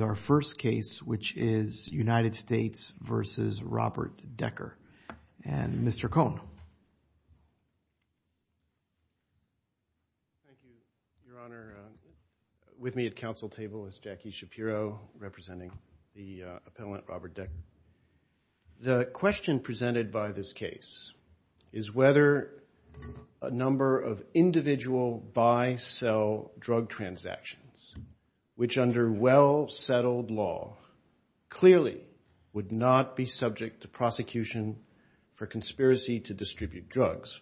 Our first case, which is United States v. Robert Decker. And Mr. Cohn. Thank you, Your Honor. With me at council table is Jackie Shapiro representing the appellant Robert Decker. The question presented by this case is whether a number of individual buy-sell drug transactions, which under well-settled law clearly would not be subject to prosecution for conspiracy to distribute drugs,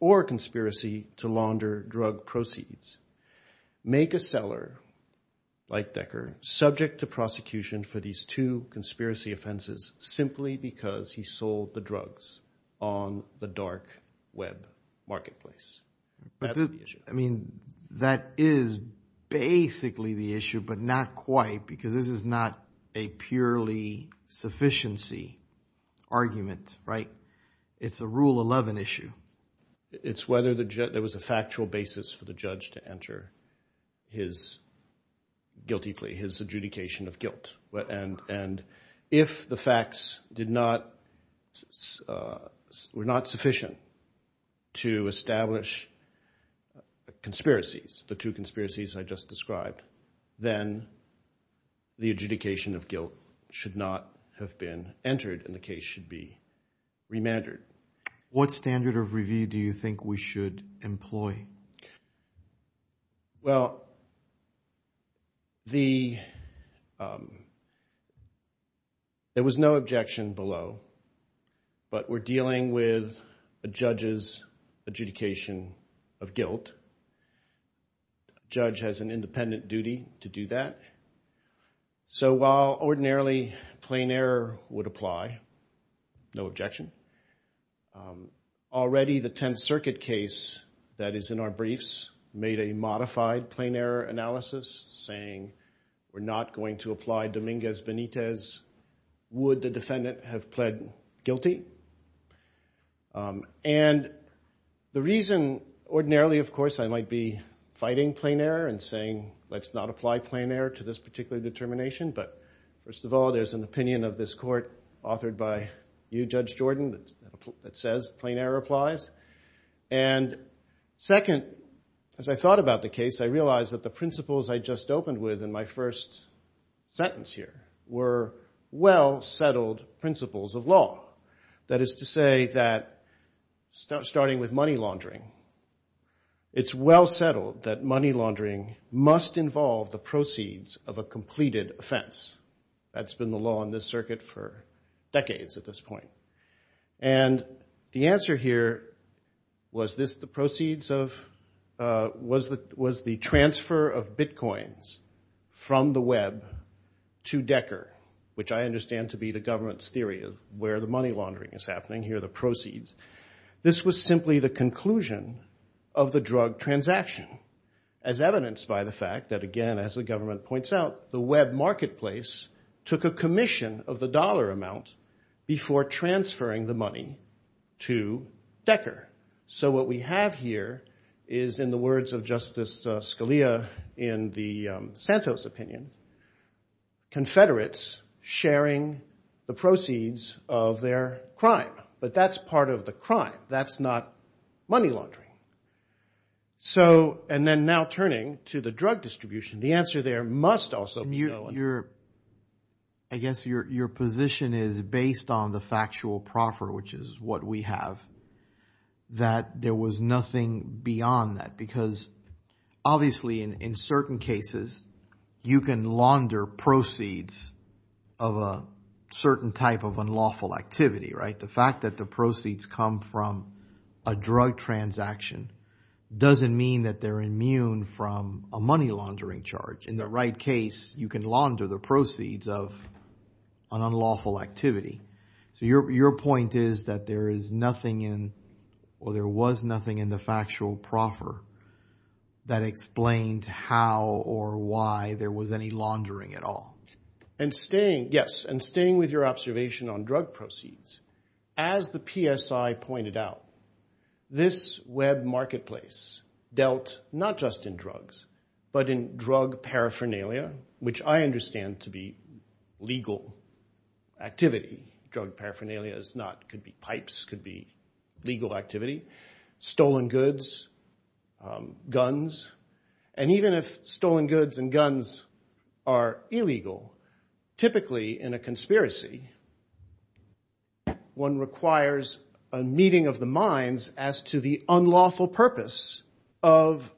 or conspiracy to launder drug proceeds, make a seller like Decker subject to prosecution for these two conspiracy offenses simply because he sold the drugs on the dark web marketplace. That's the issue. I mean, that is basically the issue, but not quite because this is not a purely sufficiency argument, right? It's a Rule 11 issue. It's whether there was a factual basis for the judge to enter his guilty plea, his adjudication of guilt. And if the facts were not sufficient to establish conspiracies, the two conspiracies I just described, then the adjudication of guilt should not have been entered and the case should be remandered. What standard of review do you think we should employ? Well, there was no objection below, but we're dealing with a judge's adjudication of guilt. A judge has an independent duty to do that. So while ordinarily plain error would apply, no objection. Already the Tenth Circuit case that is in our briefs made a modified plain error analysis saying we're not going to apply Dominguez-Benitez. Would the defendant have pled guilty? And the reason ordinarily, of course, I might be fighting plain error and saying let's not apply plain error to this particular determination, but first of all, there's an opinion of this court authored by you, Judge Jordan, that says plain error applies. And second, as I thought about the case, I realized that the principles I just opened with in my first sentence here were well settled principles of law. That is to say that starting with money laundering, it's well settled that money laundering must involve the proceeds of a And the answer here was the transfer of bitcoins from the Web to Decker, which I understand to be the government's theory of where the money laundering is happening. Here are the proceeds. This was simply the conclusion of the drug transaction as evidenced by the fact that, again, as the government points out, the Web marketplace took a commission of the dollar amount before transferring the money to Decker. So what we have here is, in the words of Justice Scalia in the Santos opinion, confederates sharing the proceeds of their crime. But that's part of the I guess your position is based on the factual proffer, which is what we have, that there was nothing beyond that because obviously in certain cases you can launder proceeds of a certain type of unlawful activity, right? The fact that the proceeds come from a drug transaction doesn't mean that they're immune from a money laundering charge. In the right case, you can launder the proceeds of an unlawful activity. So your point is that there is nothing in or there was nothing in the factual proffer that explained how or why there was any laundering at all. And staying, yes, and staying with your observation on drug proceeds, as the PSI pointed out, this Web marketplace dealt not just in drugs but in drug paraphernalia, which I understand to be legal activity. Drug paraphernalia is not, could be pipes, could be legal activity, stolen goods, guns, and even if stolen goods and guns are illegal, typically in a conspiracy, one requires a meeting of the minds as to the unlawful purpose of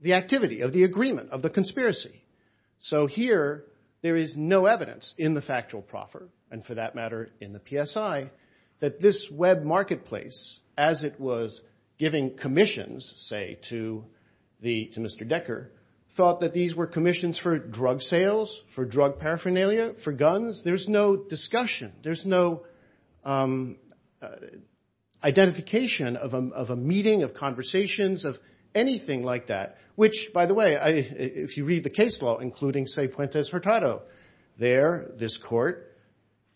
the activity, of the agreement, of the conspiracy. So here there is no evidence in the factual proffer, and for that matter in the PSI, that this Web marketplace, as it was giving commissions, say, to Mr. Decker, thought that these were commissions for drug sales, for drug paraphernalia, for guns. There's no discussion. There's no identification of a meeting, of conversations, of anything like that. Which, by the way, if you read the case law, including, say, Puentes-Hurtado, there this court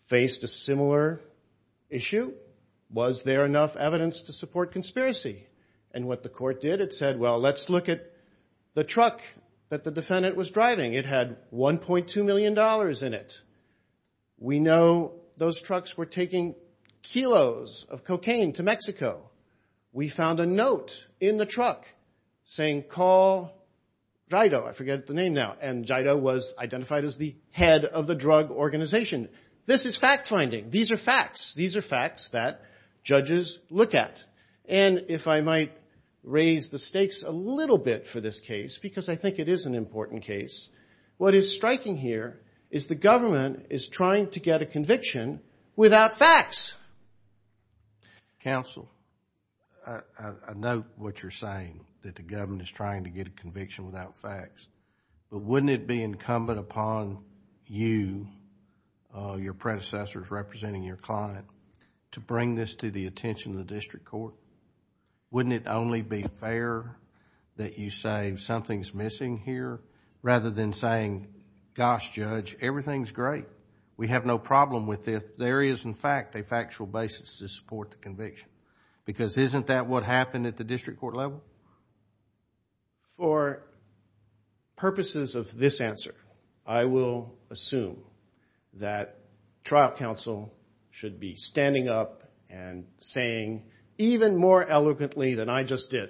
faced a similar issue. Was there enough evidence to support conspiracy? And what the court did, it said, well, let's look at the truck that the defendant was driving. It had $1.2 million in it. We know those trucks were taking kilos of cocaine to Mexico. We found a note in the truck saying, call Jido. I forget the name now. And Jido was identified as the head of the drug organization. This is fact finding. These are facts. These are facts that judges look at. And if I might raise the stakes a little bit for this case, because I think it is an important case, what is striking here is the government is trying to get a conviction without facts. Counsel, I note what you're saying, that the government is trying to get a conviction without facts. But wouldn't it be incumbent upon you, your predecessors representing your client, to bring this to the attention of the district court? Wouldn't it only be fair that you say, something's missing here, rather than saying, gosh, judge, everything's great. We have no problem with this. There is, in fact, a factual basis to support the conviction. Because isn't that what happened at the district court level? For purposes of this answer, I will assume that trial counsel should be standing up and saying, even more eloquently than I just did,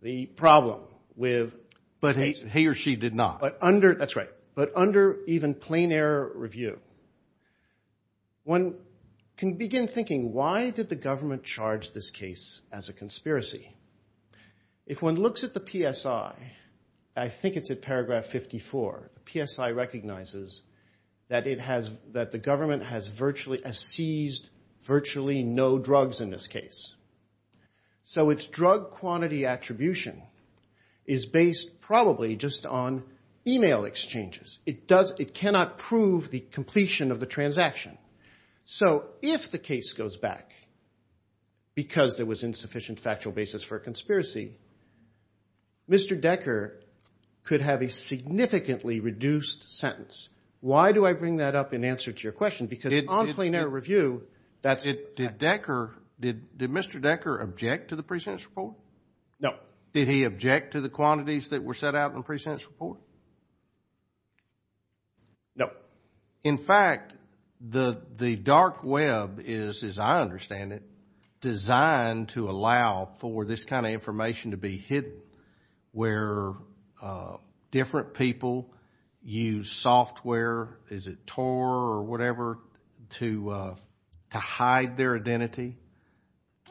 the problem with... But he or she did not. That's right. But under even plain error review, one can begin thinking, why did the government charge this case as a conspiracy? If one looks at the PSI, I think it's at paragraph 54, the PSI recognizes that the government has seized virtually no drugs in this case. So its drug quantity attribution is based probably just on e-mail exchanges. It cannot prove the completion of the transaction. So if the case goes back because there was insufficient factual basis for a conspiracy, Mr. Decker could have a significantly reduced sentence. Why do I bring that up in answer to your question? Because on plain error review, that's... Did Mr. Decker object to the pre-sentence report? No. Did he object to the quantities that were set out in the pre-sentence report? No. In fact, the dark web is, as I understand it, designed to allow for this kind of information to be hidden, where different people use software, is it Tor or whatever, to hide their identity,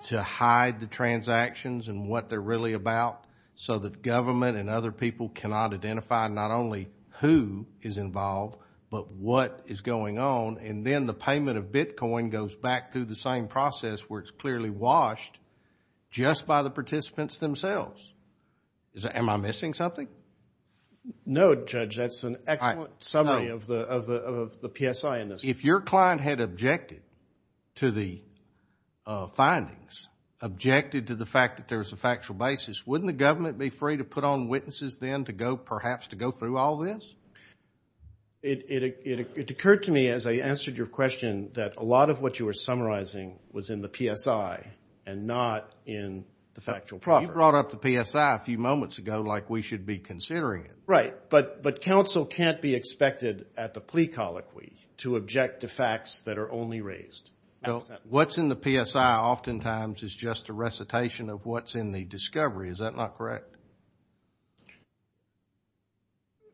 to hide the transactions and what they're really about, so that government and other people cannot identify not only who is involved but what is going on, and then the payment of Bitcoin goes back through the same process where it's clearly washed just by the participants themselves. Am I missing something? No, Judge. That's an excellent summary of the PSI in this. If your client had objected to the findings, objected to the fact that there was a factual basis, wouldn't the government be free to put on witnesses then to go perhaps to go through all this? It occurred to me as I answered your question that a lot of what you were summarizing was in the PSI and not in the factual property. You brought up the PSI a few moments ago like we should be considering it. Right, but counsel can't be expected at the plea colloquy to object to facts that are only raised. What's in the PSI oftentimes is just a recitation of what's in the discovery. Is that not correct?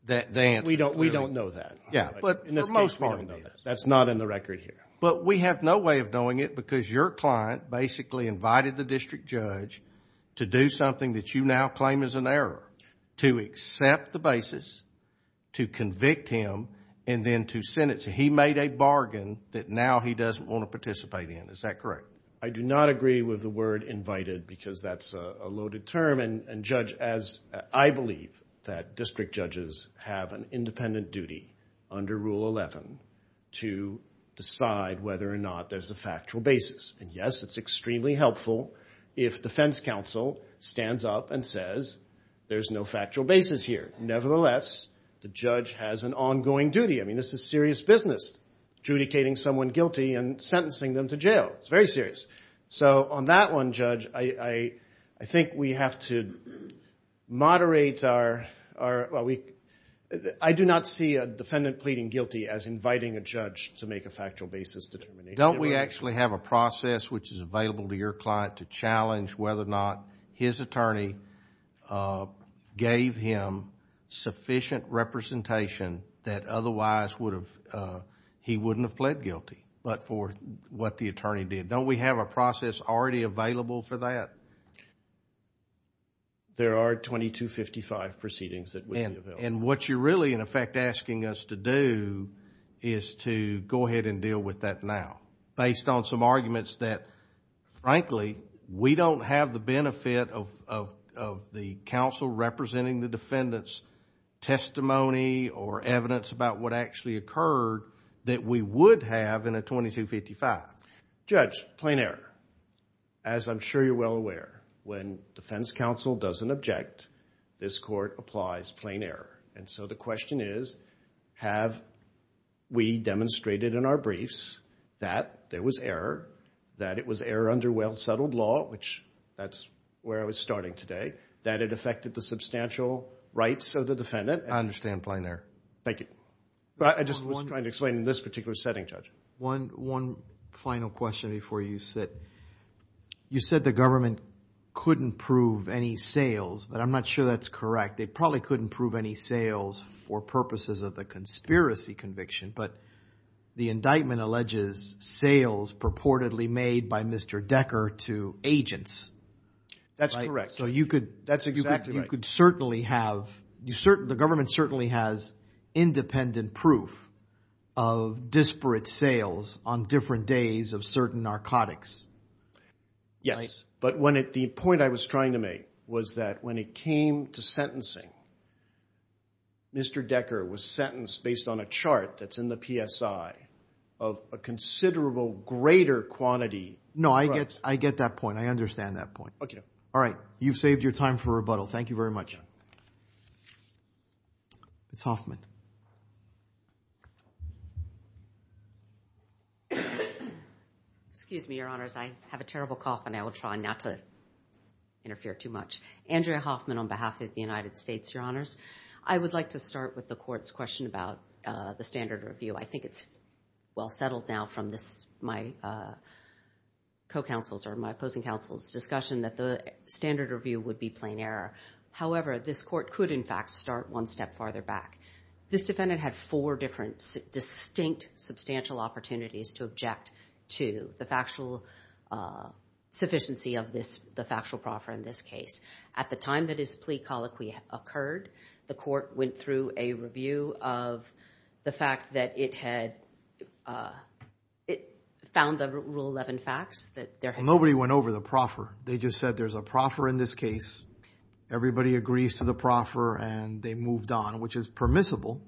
We don't know that. For the most part. That's not in the record here. But we have no way of knowing it because your client basically invited the district judge to do something that you now claim is an error, to accept the basis, to convict him, and then to sentence him. He made a bargain that now he doesn't want to participate in. Is that correct? I do not agree with the word invited because that's a loaded term. I believe that district judges have an independent duty under Rule 11 to decide whether or not there's a factual basis. And, yes, it's extremely helpful if defense counsel stands up and says there's no factual basis here. Nevertheless, the judge has an ongoing duty. I mean, this is serious business, adjudicating someone guilty and sentencing them to jail. It's very serious. So on that one, Judge, I think we have to moderate our – I do not see a defendant pleading guilty as inviting a judge to make a factual basis determination. Don't we actually have a process which is available to your client to challenge whether or not his attorney gave him sufficient representation that otherwise he wouldn't have pled guilty but for what the attorney did? Don't we have a process already available for that? There are 2255 proceedings that would be available. And what you're really, in effect, asking us to do is to go ahead and deal with that now based on some arguments that, frankly, we don't have the benefit of the counsel representing the defendant's testimony or evidence about what actually occurred that we would have in a 2255. Judge, plain error. As I'm sure you're well aware, when defense counsel doesn't object, this court applies plain error. And so the question is, have we demonstrated in our briefs that there was error, that it was error under well-settled law, which that's where I was starting today, that it affected the substantial rights of the defendant? I understand plain error. Thank you. I just was trying to explain in this particular setting, Judge. One final question before you sit. You said the government couldn't prove any sales, but I'm not sure that's correct. They probably couldn't prove any sales for purposes of the conspiracy conviction, but the indictment alleges sales purportedly made by Mr. Decker to agents. That's correct. That's exactly right. You could certainly have, the government certainly has independent proof of disparate sales on different days of certain narcotics. Yes, but the point I was trying to make was that when it came to sentencing, Mr. Decker was sentenced based on a chart that's in the PSI of a considerable greater quantity. No, I get that point. I understand that point. All right. You've saved your time for rebuttal. Thank you very much. Ms. Hoffman. Excuse me, Your Honors. I have a terrible cough, and I will try not to interfere too much. Andrea Hoffman on behalf of the United States, Your Honors. I would like to start with the court's question about the standard review. I think it's well settled now from my co-counsel's or my opposing counsel's discussion that the standard review would be plain error. However, this court could, in fact, start one step farther back. This defendant had four different distinct substantial opportunities to object to the factual sufficiency of the factual proffer in this case. At the time that his plea colloquy occurred, the court went through a review of the fact that it had found the Rule 11 facts. Nobody went over the proffer. They just said there's a proffer in this case. Everybody agrees to the proffer, and they moved on, which is permissible.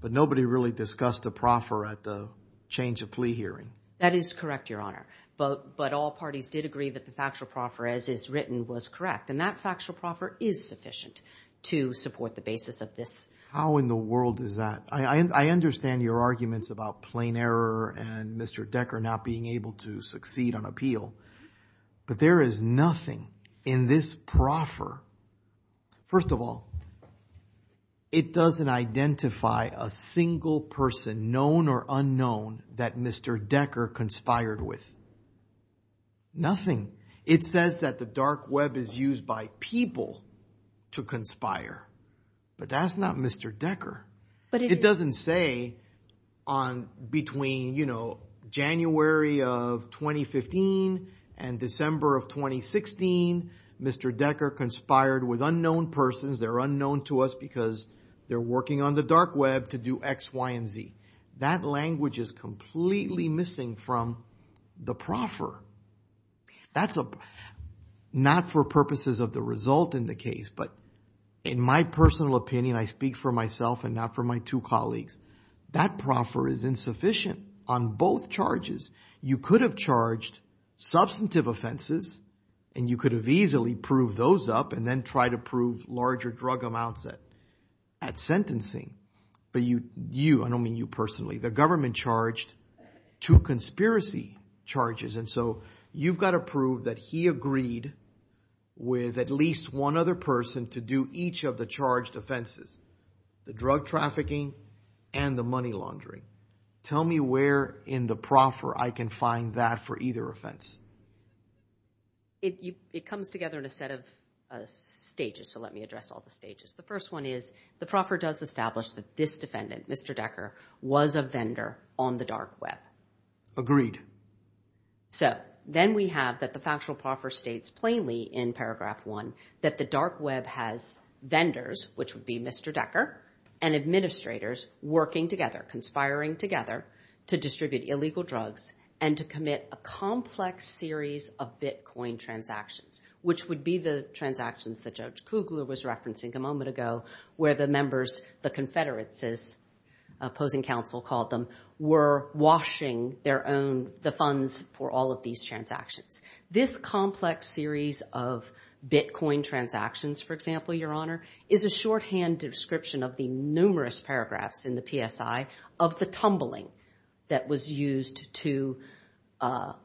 But nobody really discussed the proffer at the change of plea hearing. That is correct, Your Honor. But all parties did agree that the factual proffer, as is written, was correct. And that factual proffer is sufficient to support the basis of this. How in the world is that? I understand your arguments about plain error and Mr. Decker not being able to succeed on appeal. But there is nothing in this proffer. First of all, it doesn't identify a single person, known or unknown, that Mr. Decker conspired with. Nothing. It says that the dark web is used by people to conspire. But that's not Mr. Decker. It doesn't say on between January of 2015 and December of 2016, Mr. Decker conspired with unknown persons. They're unknown to us because they're working on the dark web to do X, Y, and Z. That language is completely missing from the proffer. That's not for purposes of the result in the case. But in my personal opinion, I speak for myself and not for my two colleagues. That proffer is insufficient on both charges. You could have charged substantive offenses and you could have easily proved those up and then tried to prove larger drug amounts at sentencing. But you, I don't mean you personally, the government charged two conspiracy charges. And so you've got to prove that he agreed with at least one other person to do each of the charged offenses, the drug trafficking and the money laundering. Tell me where in the proffer I can find that for either offense. It comes together in a set of stages, so let me address all the stages. The first one is the proffer does establish that this defendant, Mr. Decker, was a vendor on the dark web. Agreed. So then we have that the factual proffer states plainly in paragraph one that the dark web has vendors, which would be Mr. Decker, and administrators working together, conspiring together, to distribute illegal drugs and to commit a complex series of Bitcoin transactions, which would be the transactions that Judge Kugler was referencing a moment ago where the members, the confederates as opposing counsel called them, were washing their own, the funds for all of these transactions. This complex series of Bitcoin transactions, for example, Your Honor, is a shorthand description of the numerous paragraphs in the PSI of the tumbling that was used to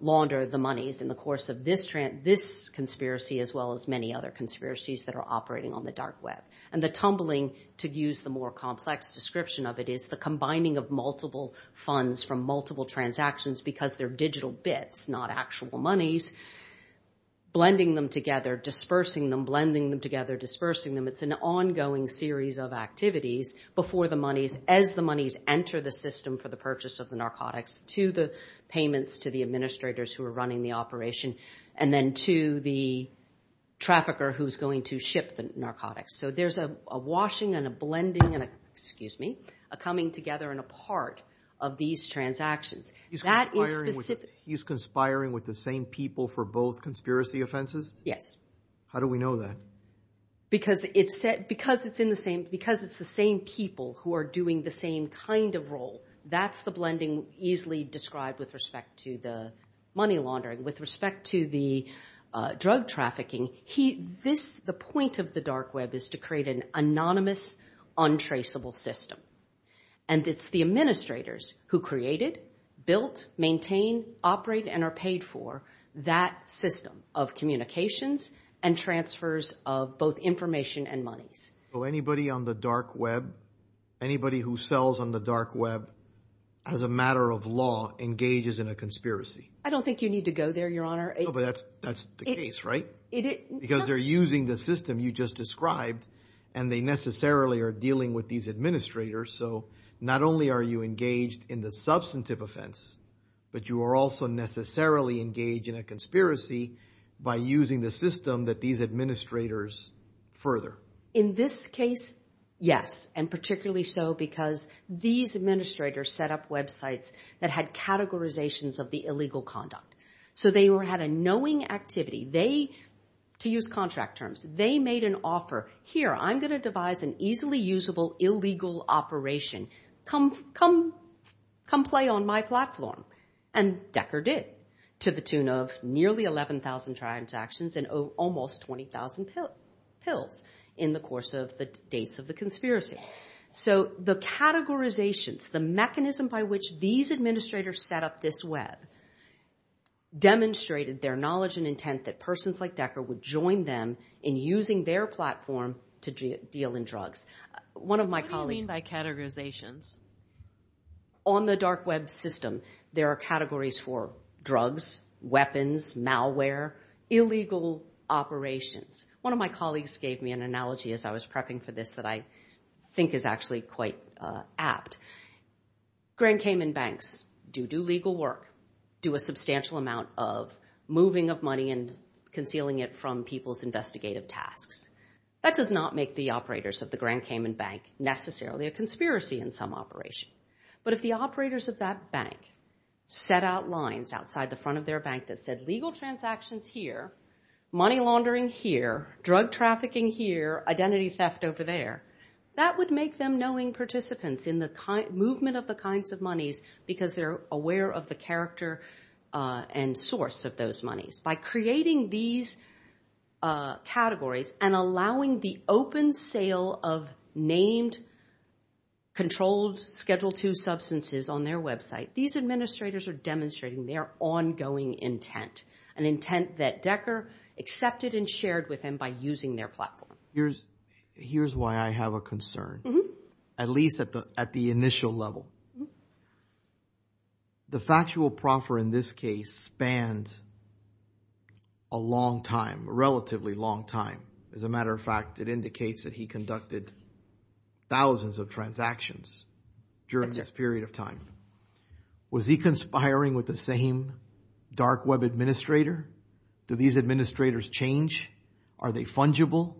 launder the monies in the course of this conspiracy as well as many other conspiracies that are operating on the dark web. And the tumbling, to use the more complex description of it, is the combining of multiple funds from multiple transactions because they're digital bits, not actual monies, blending them together, dispersing them, blending them together, dispersing them. It's an ongoing series of activities before the monies, as the monies enter the system for the purchase of the narcotics, to the payments to the administrators who are running the operation and then to the trafficker who's going to ship the narcotics. So there's a washing and a blending and a, excuse me, a coming together and a part of these transactions. He's conspiring with the same people for both conspiracy offenses? Yes. How do we know that? Because it's the same people who are doing the same kind of role. That's the blending easily described with respect to the money laundering. With respect to the drug trafficking, he, this, the point of the dark web is to create an anonymous, untraceable system. And it's the administrators who create it, built, maintain, operate, and are paid for that system of communications and transfers of both information and monies. So anybody on the dark web, anybody who sells on the dark web, as a matter of law, engages in a conspiracy? I don't think you need to go there, Your Honor. No, but that's the case, right? Because they're using the system you just described and they necessarily are dealing with these administrators. So not only are you engaged in the substantive offense, but you are also necessarily engaged in a conspiracy by using the system that these administrators further. In this case, yes, and particularly so because these administrators set up websites that had categorizations of the illegal conduct. So they had a knowing activity. They, to use contract terms, they made an offer. Here, I'm going to devise an easily usable illegal operation. Come play on my platform. And Decker did, to the tune of nearly 11,000 transactions and almost 20,000 pills in the course of the dates of the conspiracy. So the categorizations, the mechanism by which these administrators set up this web, demonstrated their knowledge and intent that persons like Decker would join them in using their platform to deal in drugs. What do you mean by categorizations? On the dark web system, there are categories for drugs, weapons, malware, illegal operations. One of my colleagues gave me an analogy as I was prepping for this that I think is actually quite apt. Grand Cayman banks do do legal work, do a substantial amount of moving of money and concealing it from people's investigative tasks. That does not make the operators of the Grand Cayman Bank necessarily a conspiracy in some operation. But if the operators of that bank set out lines outside the front of their bank that said legal transactions here, money laundering here, drug trafficking here, identity theft over there, that would make them knowing participants in the movement of the kinds of monies because they're aware of the character and source of those monies. By creating these categories and allowing the open sale of named, controlled, Schedule II substances on their website, these administrators are demonstrating their ongoing intent, an intent that Decker accepted and shared with them by using their platform. Here's why I have a concern, at least at the initial level. The factual proffer in this case spanned a long time, a relatively long time. As a matter of fact, it indicates that he conducted thousands of transactions during this period of time. Was he conspiring with the same dark web administrator? Do these administrators change? Are they fungible?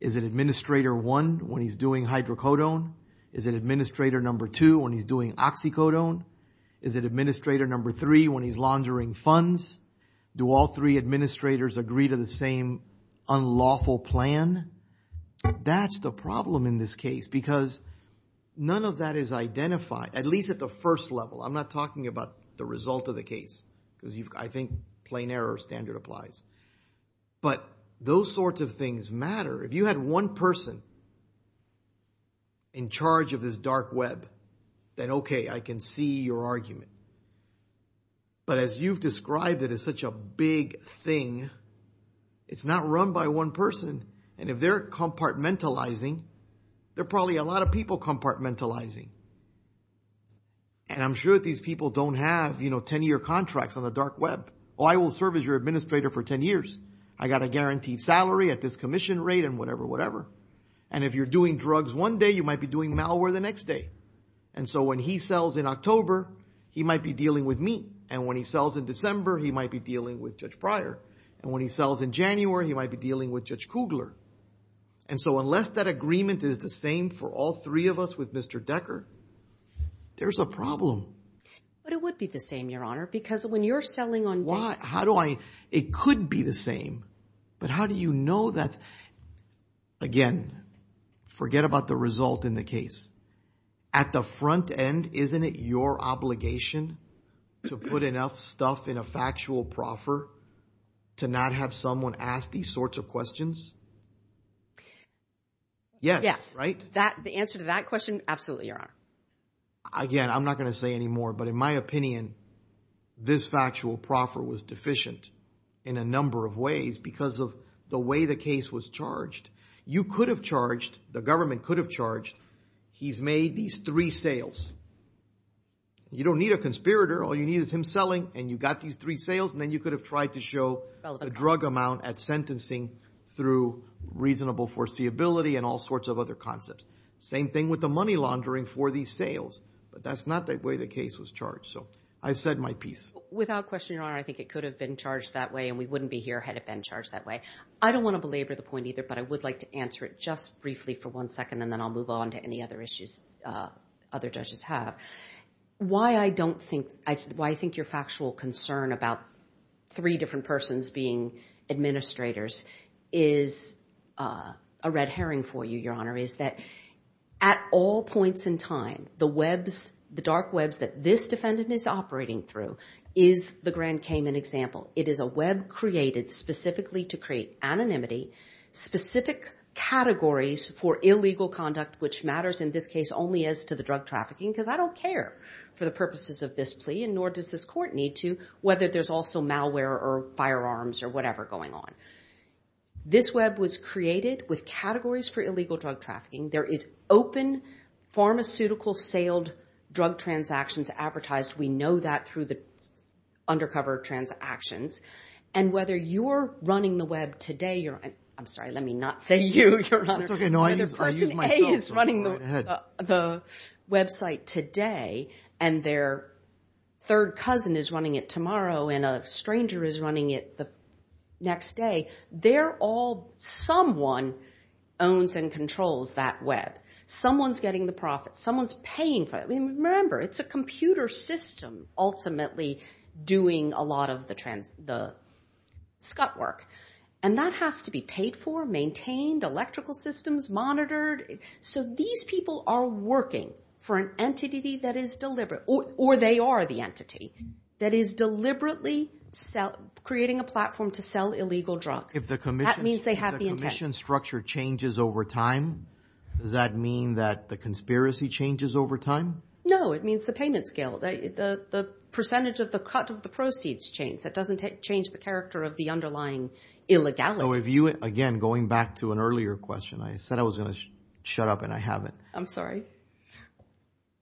Is it administrator one when he's doing hydrocodone? Is it administrator number two when he's doing oxycodone? Is it administrator number three when he's laundering funds? Do all three administrators agree to the same unlawful plan? That's the problem in this case because none of that is identified, at least at the first level. I'm not talking about the result of the case because I think plain error standard applies. But those sorts of things matter. If you had one person in charge of this dark web, then okay, I can see your argument. But as you've described it as such a big thing, it's not run by one person. And if they're compartmentalizing, they're probably a lot of people compartmentalizing. And I'm sure that these people don't have 10-year contracts on the dark web. Oh, I will serve as your administrator for 10 years. I got a guaranteed salary at this commission rate and whatever, whatever. And if you're doing drugs one day, you might be doing malware the next day. And so when he sells in October, he might be dealing with me. And when he sells in December, he might be dealing with Judge Pryor. And when he sells in January, he might be dealing with Judge Kugler. And so unless that agreement is the same for all three of us with Mr. Decker, there's a problem. But it would be the same, Your Honor, because when you're selling on day one. Why? How do I? It could be the same. But how do you know that? Again, forget about the result in the case. At the front end, isn't it your obligation to put enough stuff in a factual proffer to not have someone ask these sorts of questions? Yes. Yes. Right? The answer to that question, absolutely, Your Honor. Again, I'm not going to say any more, but in my opinion, this factual proffer was deficient in a number of ways because of the way the case was charged. You could have charged. The government could have charged. He's made these three sales. You don't need a conspirator. All you need is him selling, and you got these three sales, and then you could have tried to show a drug amount at sentencing through reasonable foreseeability and all sorts of other concepts. Same thing with the money laundering for these sales. But that's not the way the case was charged. So I've said my piece. Without question, Your Honor, I think it could have been charged that way, and we wouldn't be here had it been charged that way. I don't want to belabor the point either, but I would like to answer it just briefly for one second, and then I'll move on to any other issues other judges have. Why I think your factual concern about three different persons being administrators is a red herring for you, Your Honor, is that at all points in time, the dark webs that this defendant is operating through is the Grand Cayman example. It is a web created specifically to create anonymity, specific categories for illegal conduct, which matters in this case only as to the drug trafficking because I don't care for the purposes of this plea, and nor does this court need to, whether there's also malware or firearms or whatever going on. This web was created with categories for illegal drug trafficking. There is open pharmaceutical-sailed drug transactions advertised. We know that through the undercover transactions. And whether you're running the web today, Your Honor—I'm sorry, let me not say you, Your Honor. No, I use myself. Whether Person A is running the website today and their third cousin is running it tomorrow and a stranger is running it the next day, they're all—someone owns and controls that web. Someone's getting the profits. Someone's paying for it. Remember, it's a computer system ultimately doing a lot of the scut work, and that has to be paid for, maintained, electrical systems monitored. So these people are working for an entity that is deliberate, or they are the entity, that is deliberately creating a platform to sell illegal drugs. That means they have the intent. If the commission structure changes over time, does that mean that the conspiracy changes over time? No, it means the payment scale, the percentage of the cut of the proceeds change. That doesn't change the character of the underlying illegality. So if you—again, going back to an earlier question, I said I was going to shut up and I haven't. I'm sorry.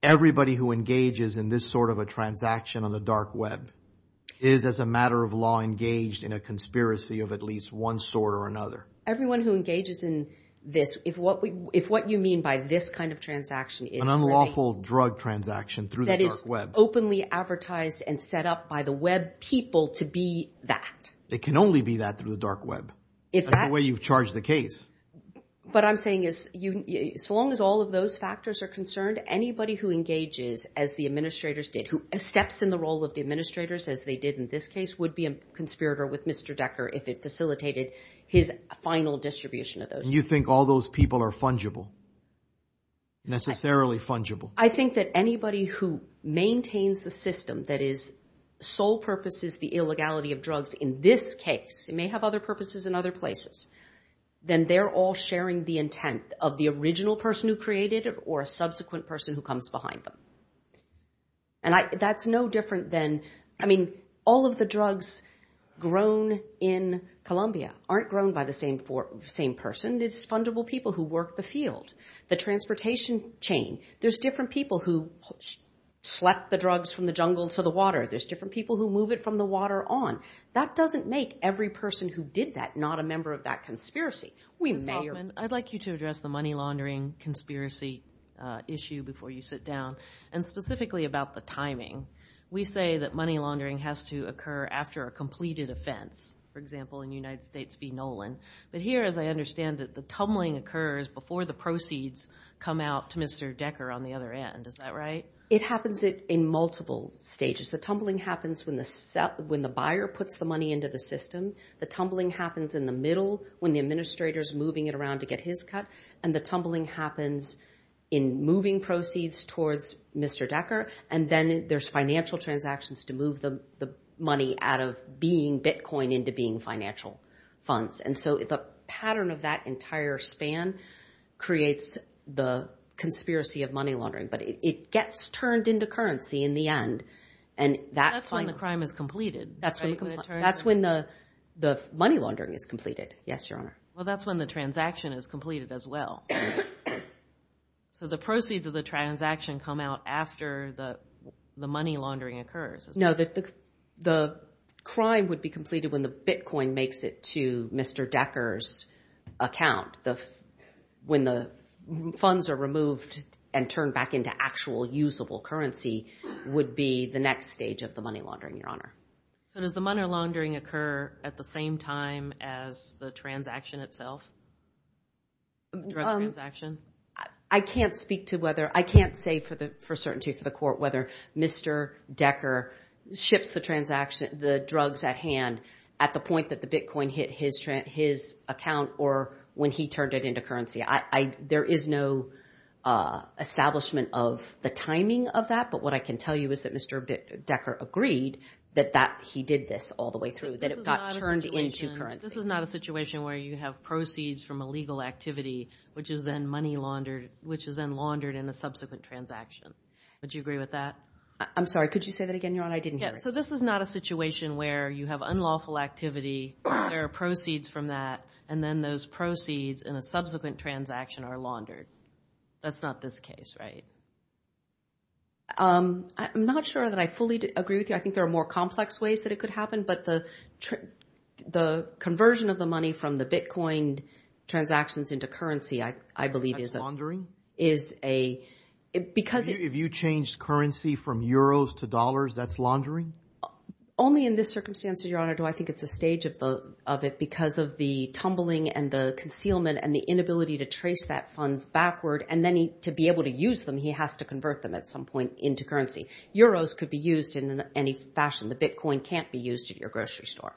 Everybody who engages in this sort of a transaction on the dark web is, as a matter of law, engaged in a conspiracy of at least one sort or another. Everyone who engages in this—if what you mean by this kind of transaction is really— An unlawful drug transaction through the dark web. That is openly advertised and set up by the web people to be that. It can only be that through the dark web. That's the way you've charged the case. What I'm saying is so long as all of those factors are concerned, anybody who engages as the administrators did, who steps in the role of the administrators as they did in this case, would be a conspirator with Mr. Decker if it facilitated his final distribution of those drugs. You think all those people are fungible, necessarily fungible? I think that anybody who maintains the system that sole purpose is the illegality of drugs in this case— it may have other purposes in other places— then they're all sharing the intent of the original person who created it or a subsequent person who comes behind them. And that's no different than—I mean, all of the drugs grown in Colombia aren't grown by the same person. It's fungible people who work the field, the transportation chain. There's different people who select the drugs from the jungle to the water. There's different people who move it from the water on. That doesn't make every person who did that not a member of that conspiracy. Ms. Hoffman, I'd like you to address the money laundering conspiracy issue before you sit down, and specifically about the timing. We say that money laundering has to occur after a completed offense, for example, in United States v. Nolan. But here, as I understand it, the tumbling occurs before the proceeds come out to Mr. Decker on the other end. Is that right? It happens in multiple stages. The tumbling happens when the buyer puts the money into the system. The tumbling happens in the middle when the administrator's moving it around to get his cut. And the tumbling happens in moving proceeds towards Mr. Decker, and then there's financial transactions to move the money out of being Bitcoin into being financial funds. And so the pattern of that entire span creates the conspiracy of money laundering. But it gets turned into currency in the end. That's when the crime is completed, right? That's when the money laundering is completed. Yes, Your Honor. Well, that's when the transaction is completed as well. So the proceeds of the transaction come out after the money laundering occurs. No, the crime would be completed when the Bitcoin makes it to Mr. Decker's account. When the funds are removed and turned back into actual usable currency would be the next stage of the money laundering, Your Honor. So does the money laundering occur at the same time as the transaction itself, the transaction? I can't speak to whether. I can't say for certainty for the court whether Mr. Decker ships the transaction, the drugs at hand, at the point that the Bitcoin hit his account or when he turned it into currency. There is no establishment of the timing of that. But what I can tell you is that Mr. Decker agreed that he did this all the way through, that it got turned into currency. So this is not a situation where you have proceeds from a legal activity, which is then laundered in a subsequent transaction. Would you agree with that? I'm sorry. Could you say that again, Your Honor? I didn't hear it. So this is not a situation where you have unlawful activity, there are proceeds from that, and then those proceeds in a subsequent transaction are laundered. That's not this case, right? I'm not sure that I fully agree with you. I think there are more complex ways that it could happen. But the conversion of the money from the Bitcoin transactions into currency, I believe, is a – That's laundering? Is a – because – If you change currency from euros to dollars, that's laundering? Only in this circumstance, Your Honor, do I think it's a stage of it because of the tumbling and the concealment and the inability to trace that funds backward. And then to be able to use them, he has to convert them at some point into currency. Euros could be used in any fashion. The Bitcoin can't be used at your grocery store.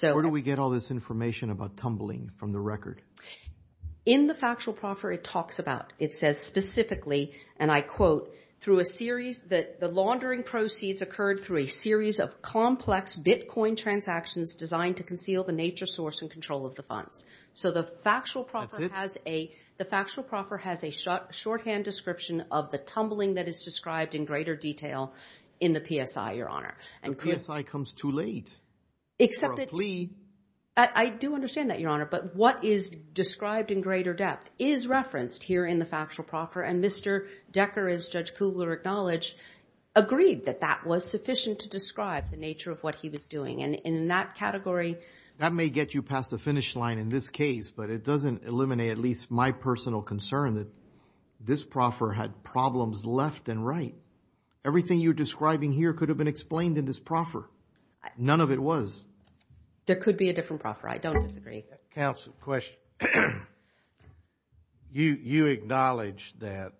Where do we get all this information about tumbling from the record? In the factual proffer, it talks about – it says specifically, and I quote, through a series – the laundering proceeds occurred through a series of complex Bitcoin transactions designed to conceal the nature, source, and control of the funds. So the factual proffer has a – That's it? The factual proffer has a shorthand description of the tumbling that is described in greater detail in the PSI, Your Honor. The PSI comes too late for a plea. Except that – I do understand that, Your Honor. But what is described in greater depth is referenced here in the factual proffer, and Mr. Decker, as Judge Kugler acknowledged, agreed that that was sufficient to describe the nature of what he was doing. And in that category – That may get you past the finish line in this case, but it doesn't eliminate at least my personal concern that this proffer had problems left and right. Everything you're describing here could have been explained in this proffer. None of it was. There could be a different proffer. I don't disagree. Counsel, question. You acknowledged that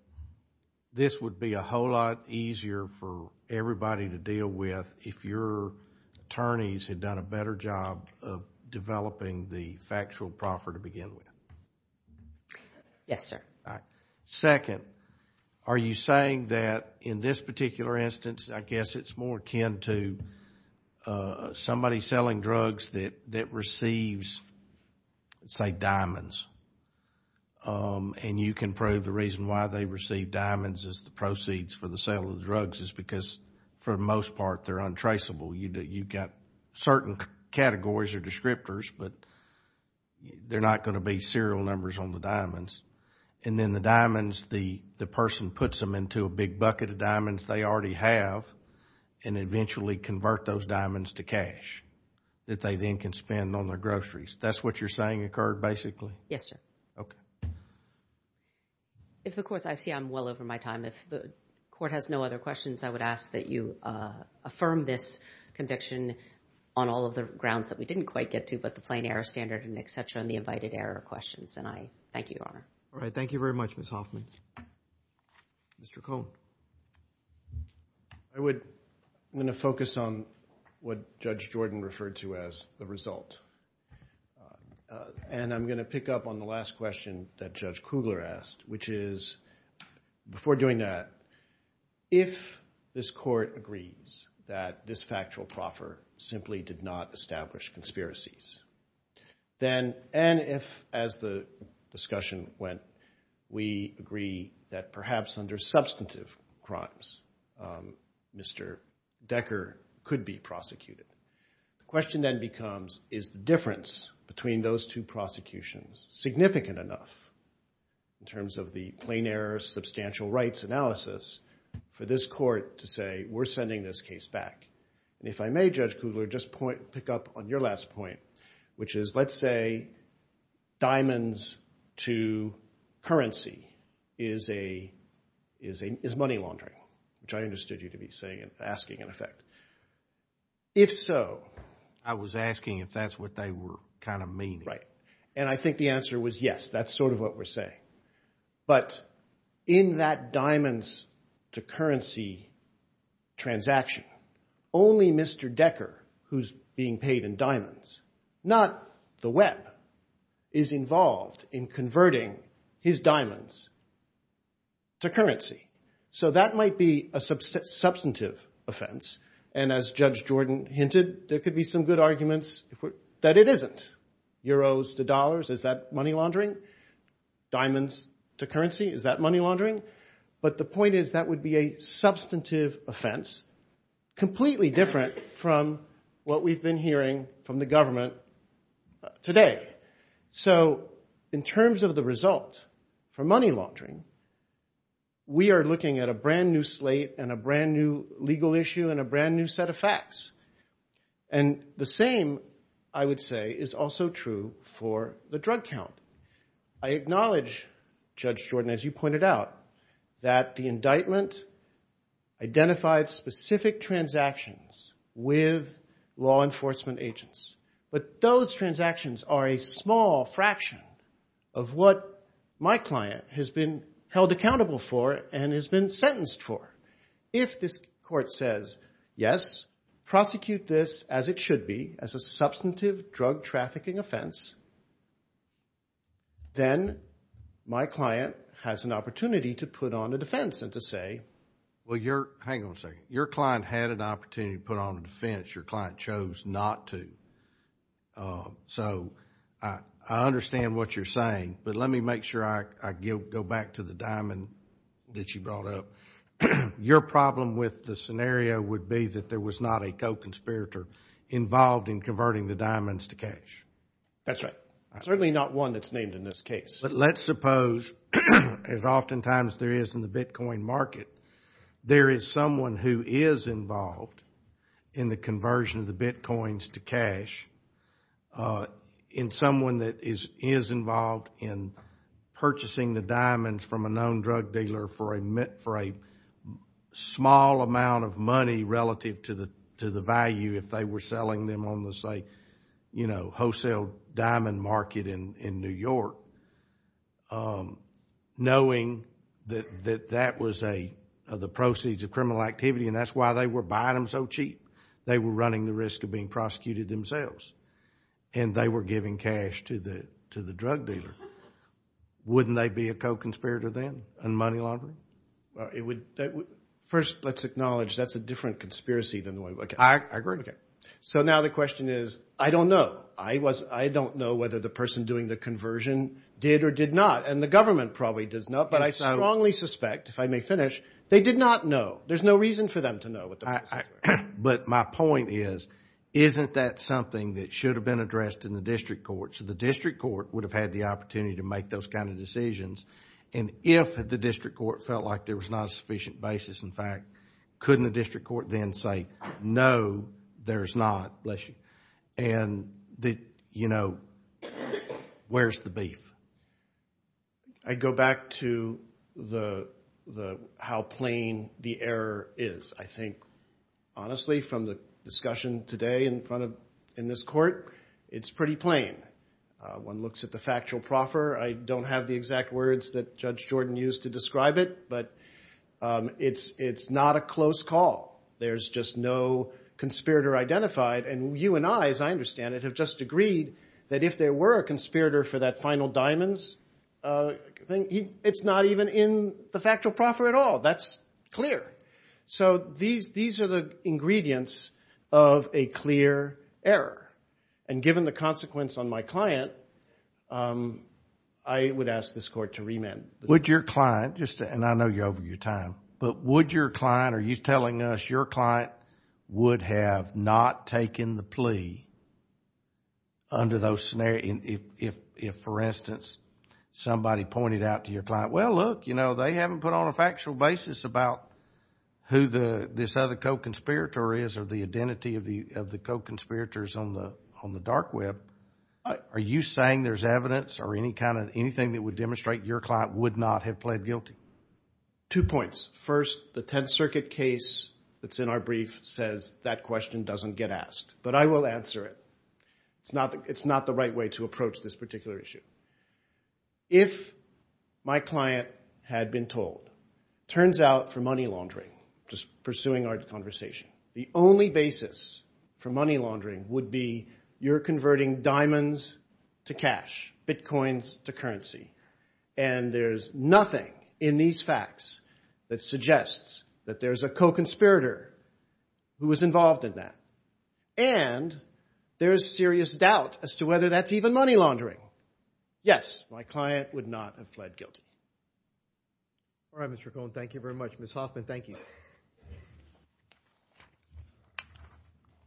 this would be a whole lot easier for everybody to deal with if your attorneys had done a better job of developing the factual proffer to begin with. Yes, sir. Second, are you saying that in this particular instance, I guess it's more akin to somebody selling drugs that receives, say, diamonds, and you can prove the reason why they receive diamonds as the proceeds for the sale of drugs is because for the most part they're untraceable. You've got certain categories or descriptors, but they're not going to be serial numbers on the diamonds. And then the diamonds, the person puts them into a big bucket of diamonds they already have and eventually convert those diamonds to cash that they then can spend on their groceries. That's what you're saying occurred basically? Yes, sir. Okay. If the court's – I see I'm well over my time. If the court has no other questions, I would ask that you affirm this conviction on all of the grounds that we didn't quite get to, but the plain error standard and et cetera and the invited error questions. And I thank you, Your Honor. All right. Thank you very much, Ms. Hoffman. Mr. Cohn. I'm going to focus on what Judge Jordan referred to as the result. And I'm going to pick up on the last question that Judge Kugler asked, which is, before doing that, if this court agrees that this factual proffer simply did not establish conspiracies, and if, as the discussion went, we agree that perhaps under substantive crimes Mr. Decker could be prosecuted, the question then becomes is the difference between those two prosecutions significant enough in terms of the plain error substantial rights analysis for this court to say, we're sending this case back. And if I may, Judge Kugler, just pick up on your last point, which is let's say diamonds to currency is money laundering, which I understood you to be asking, in effect. If so. I was asking if that's what they were kind of meaning. Right. And I think the answer was yes. That's sort of what we're saying. But in that diamonds to currency transaction, only Mr. Decker, who's being paid in diamonds, not the Web, is involved in converting his diamonds to currency. So that might be a substantive offense. And as Judge Jordan hinted, there could be some good arguments that it isn't. Euros to dollars, is that money laundering? Diamonds to currency, is that money laundering? But the point is that would be a substantive offense, completely different from what we've been hearing from the government today. So in terms of the result for money laundering, we are looking at a brand new slate and a brand new legal issue and a brand new set of facts. And the same, I would say, is also true for the drug count. I acknowledge, Judge Jordan, as you pointed out, that the indictment identified specific transactions with law enforcement agents. But those transactions are a small fraction of what my client has been held accountable for and has been sentenced for. If this court says, yes, prosecute this as it should be, as a substantive drug trafficking offense, then my client has an opportunity to put on a defense and to say... Well, hang on a second. Your client had an opportunity to put on a defense. Your client chose not to. So I understand what you're saying. But let me make sure I go back to the diamond that you brought up. Your problem with the scenario would be that there was not a co-conspirator involved in converting the diamonds to cash. That's right. Certainly not one that's named in this case. But let's suppose, as oftentimes there is in the Bitcoin market, there is someone who is involved in the conversion of the Bitcoins to cash, and someone that is involved in purchasing the diamonds from a known drug dealer for a small amount of money relative to the value if they were selling them on the wholesale diamond market in New York. Knowing that that was the proceeds of criminal activity and that's why they were buying them so cheap, they were running the risk of being prosecuted themselves, and they were giving cash to the drug dealer. Wouldn't they be a co-conspirator then in money laundering? First, let's acknowledge that's a different conspiracy. I agree with you. So now the question is, I don't know. I don't know whether the person doing the conversion did or did not, and the government probably does not. But I strongly suspect, if I may finish, they did not know. There's no reason for them to know. But my point is, isn't that something that should have been addressed in the district court? So the district court would have had the opportunity to make those kind of decisions. And if the district court felt like there was not a sufficient basis, in fact, couldn't the district court then say, no, there's not? Bless you. And, you know, where's the beef? I'd go back to how plain the error is. I think, honestly, from the discussion today in this court, it's pretty plain. One looks at the factual proffer. I don't have the exact words that Judge Jordan used to describe it, but it's not a close call. There's just no conspirator identified. And you and I, as I understand it, have just agreed that if there were a conspirator for that final diamonds thing, it's not even in the factual proffer at all. That's clear. So these are the ingredients of a clear error. And given the consequence on my client, I would ask this court to remand. Would your client, and I know you're over your time, but would your client, are you telling us your client would have not taken the plea under those scenarios if, for instance, somebody pointed out to your client, well, look, you know, they haven't put on a factual basis about who this other co-conspirator is or the identity of the co-conspirators on the dark web. Are you saying there's evidence or any kind of anything that would demonstrate your client would not have pled guilty? Two points. First, the Tenth Circuit case that's in our brief says that question doesn't get asked. But I will answer it. It's not the right way to approach this particular issue. If my client had been told, turns out for money laundering, just pursuing our conversation, the only basis for money laundering would be you're converting diamonds to cash, Bitcoins to currency, and there's nothing in these facts that suggests that there's a co-conspirator who was involved in that. And there's serious doubt as to whether that's even money laundering. Yes, my client would not have pled guilty. All right, Mr. Cohen, thank you very much. Ms. Hoffman, thank you.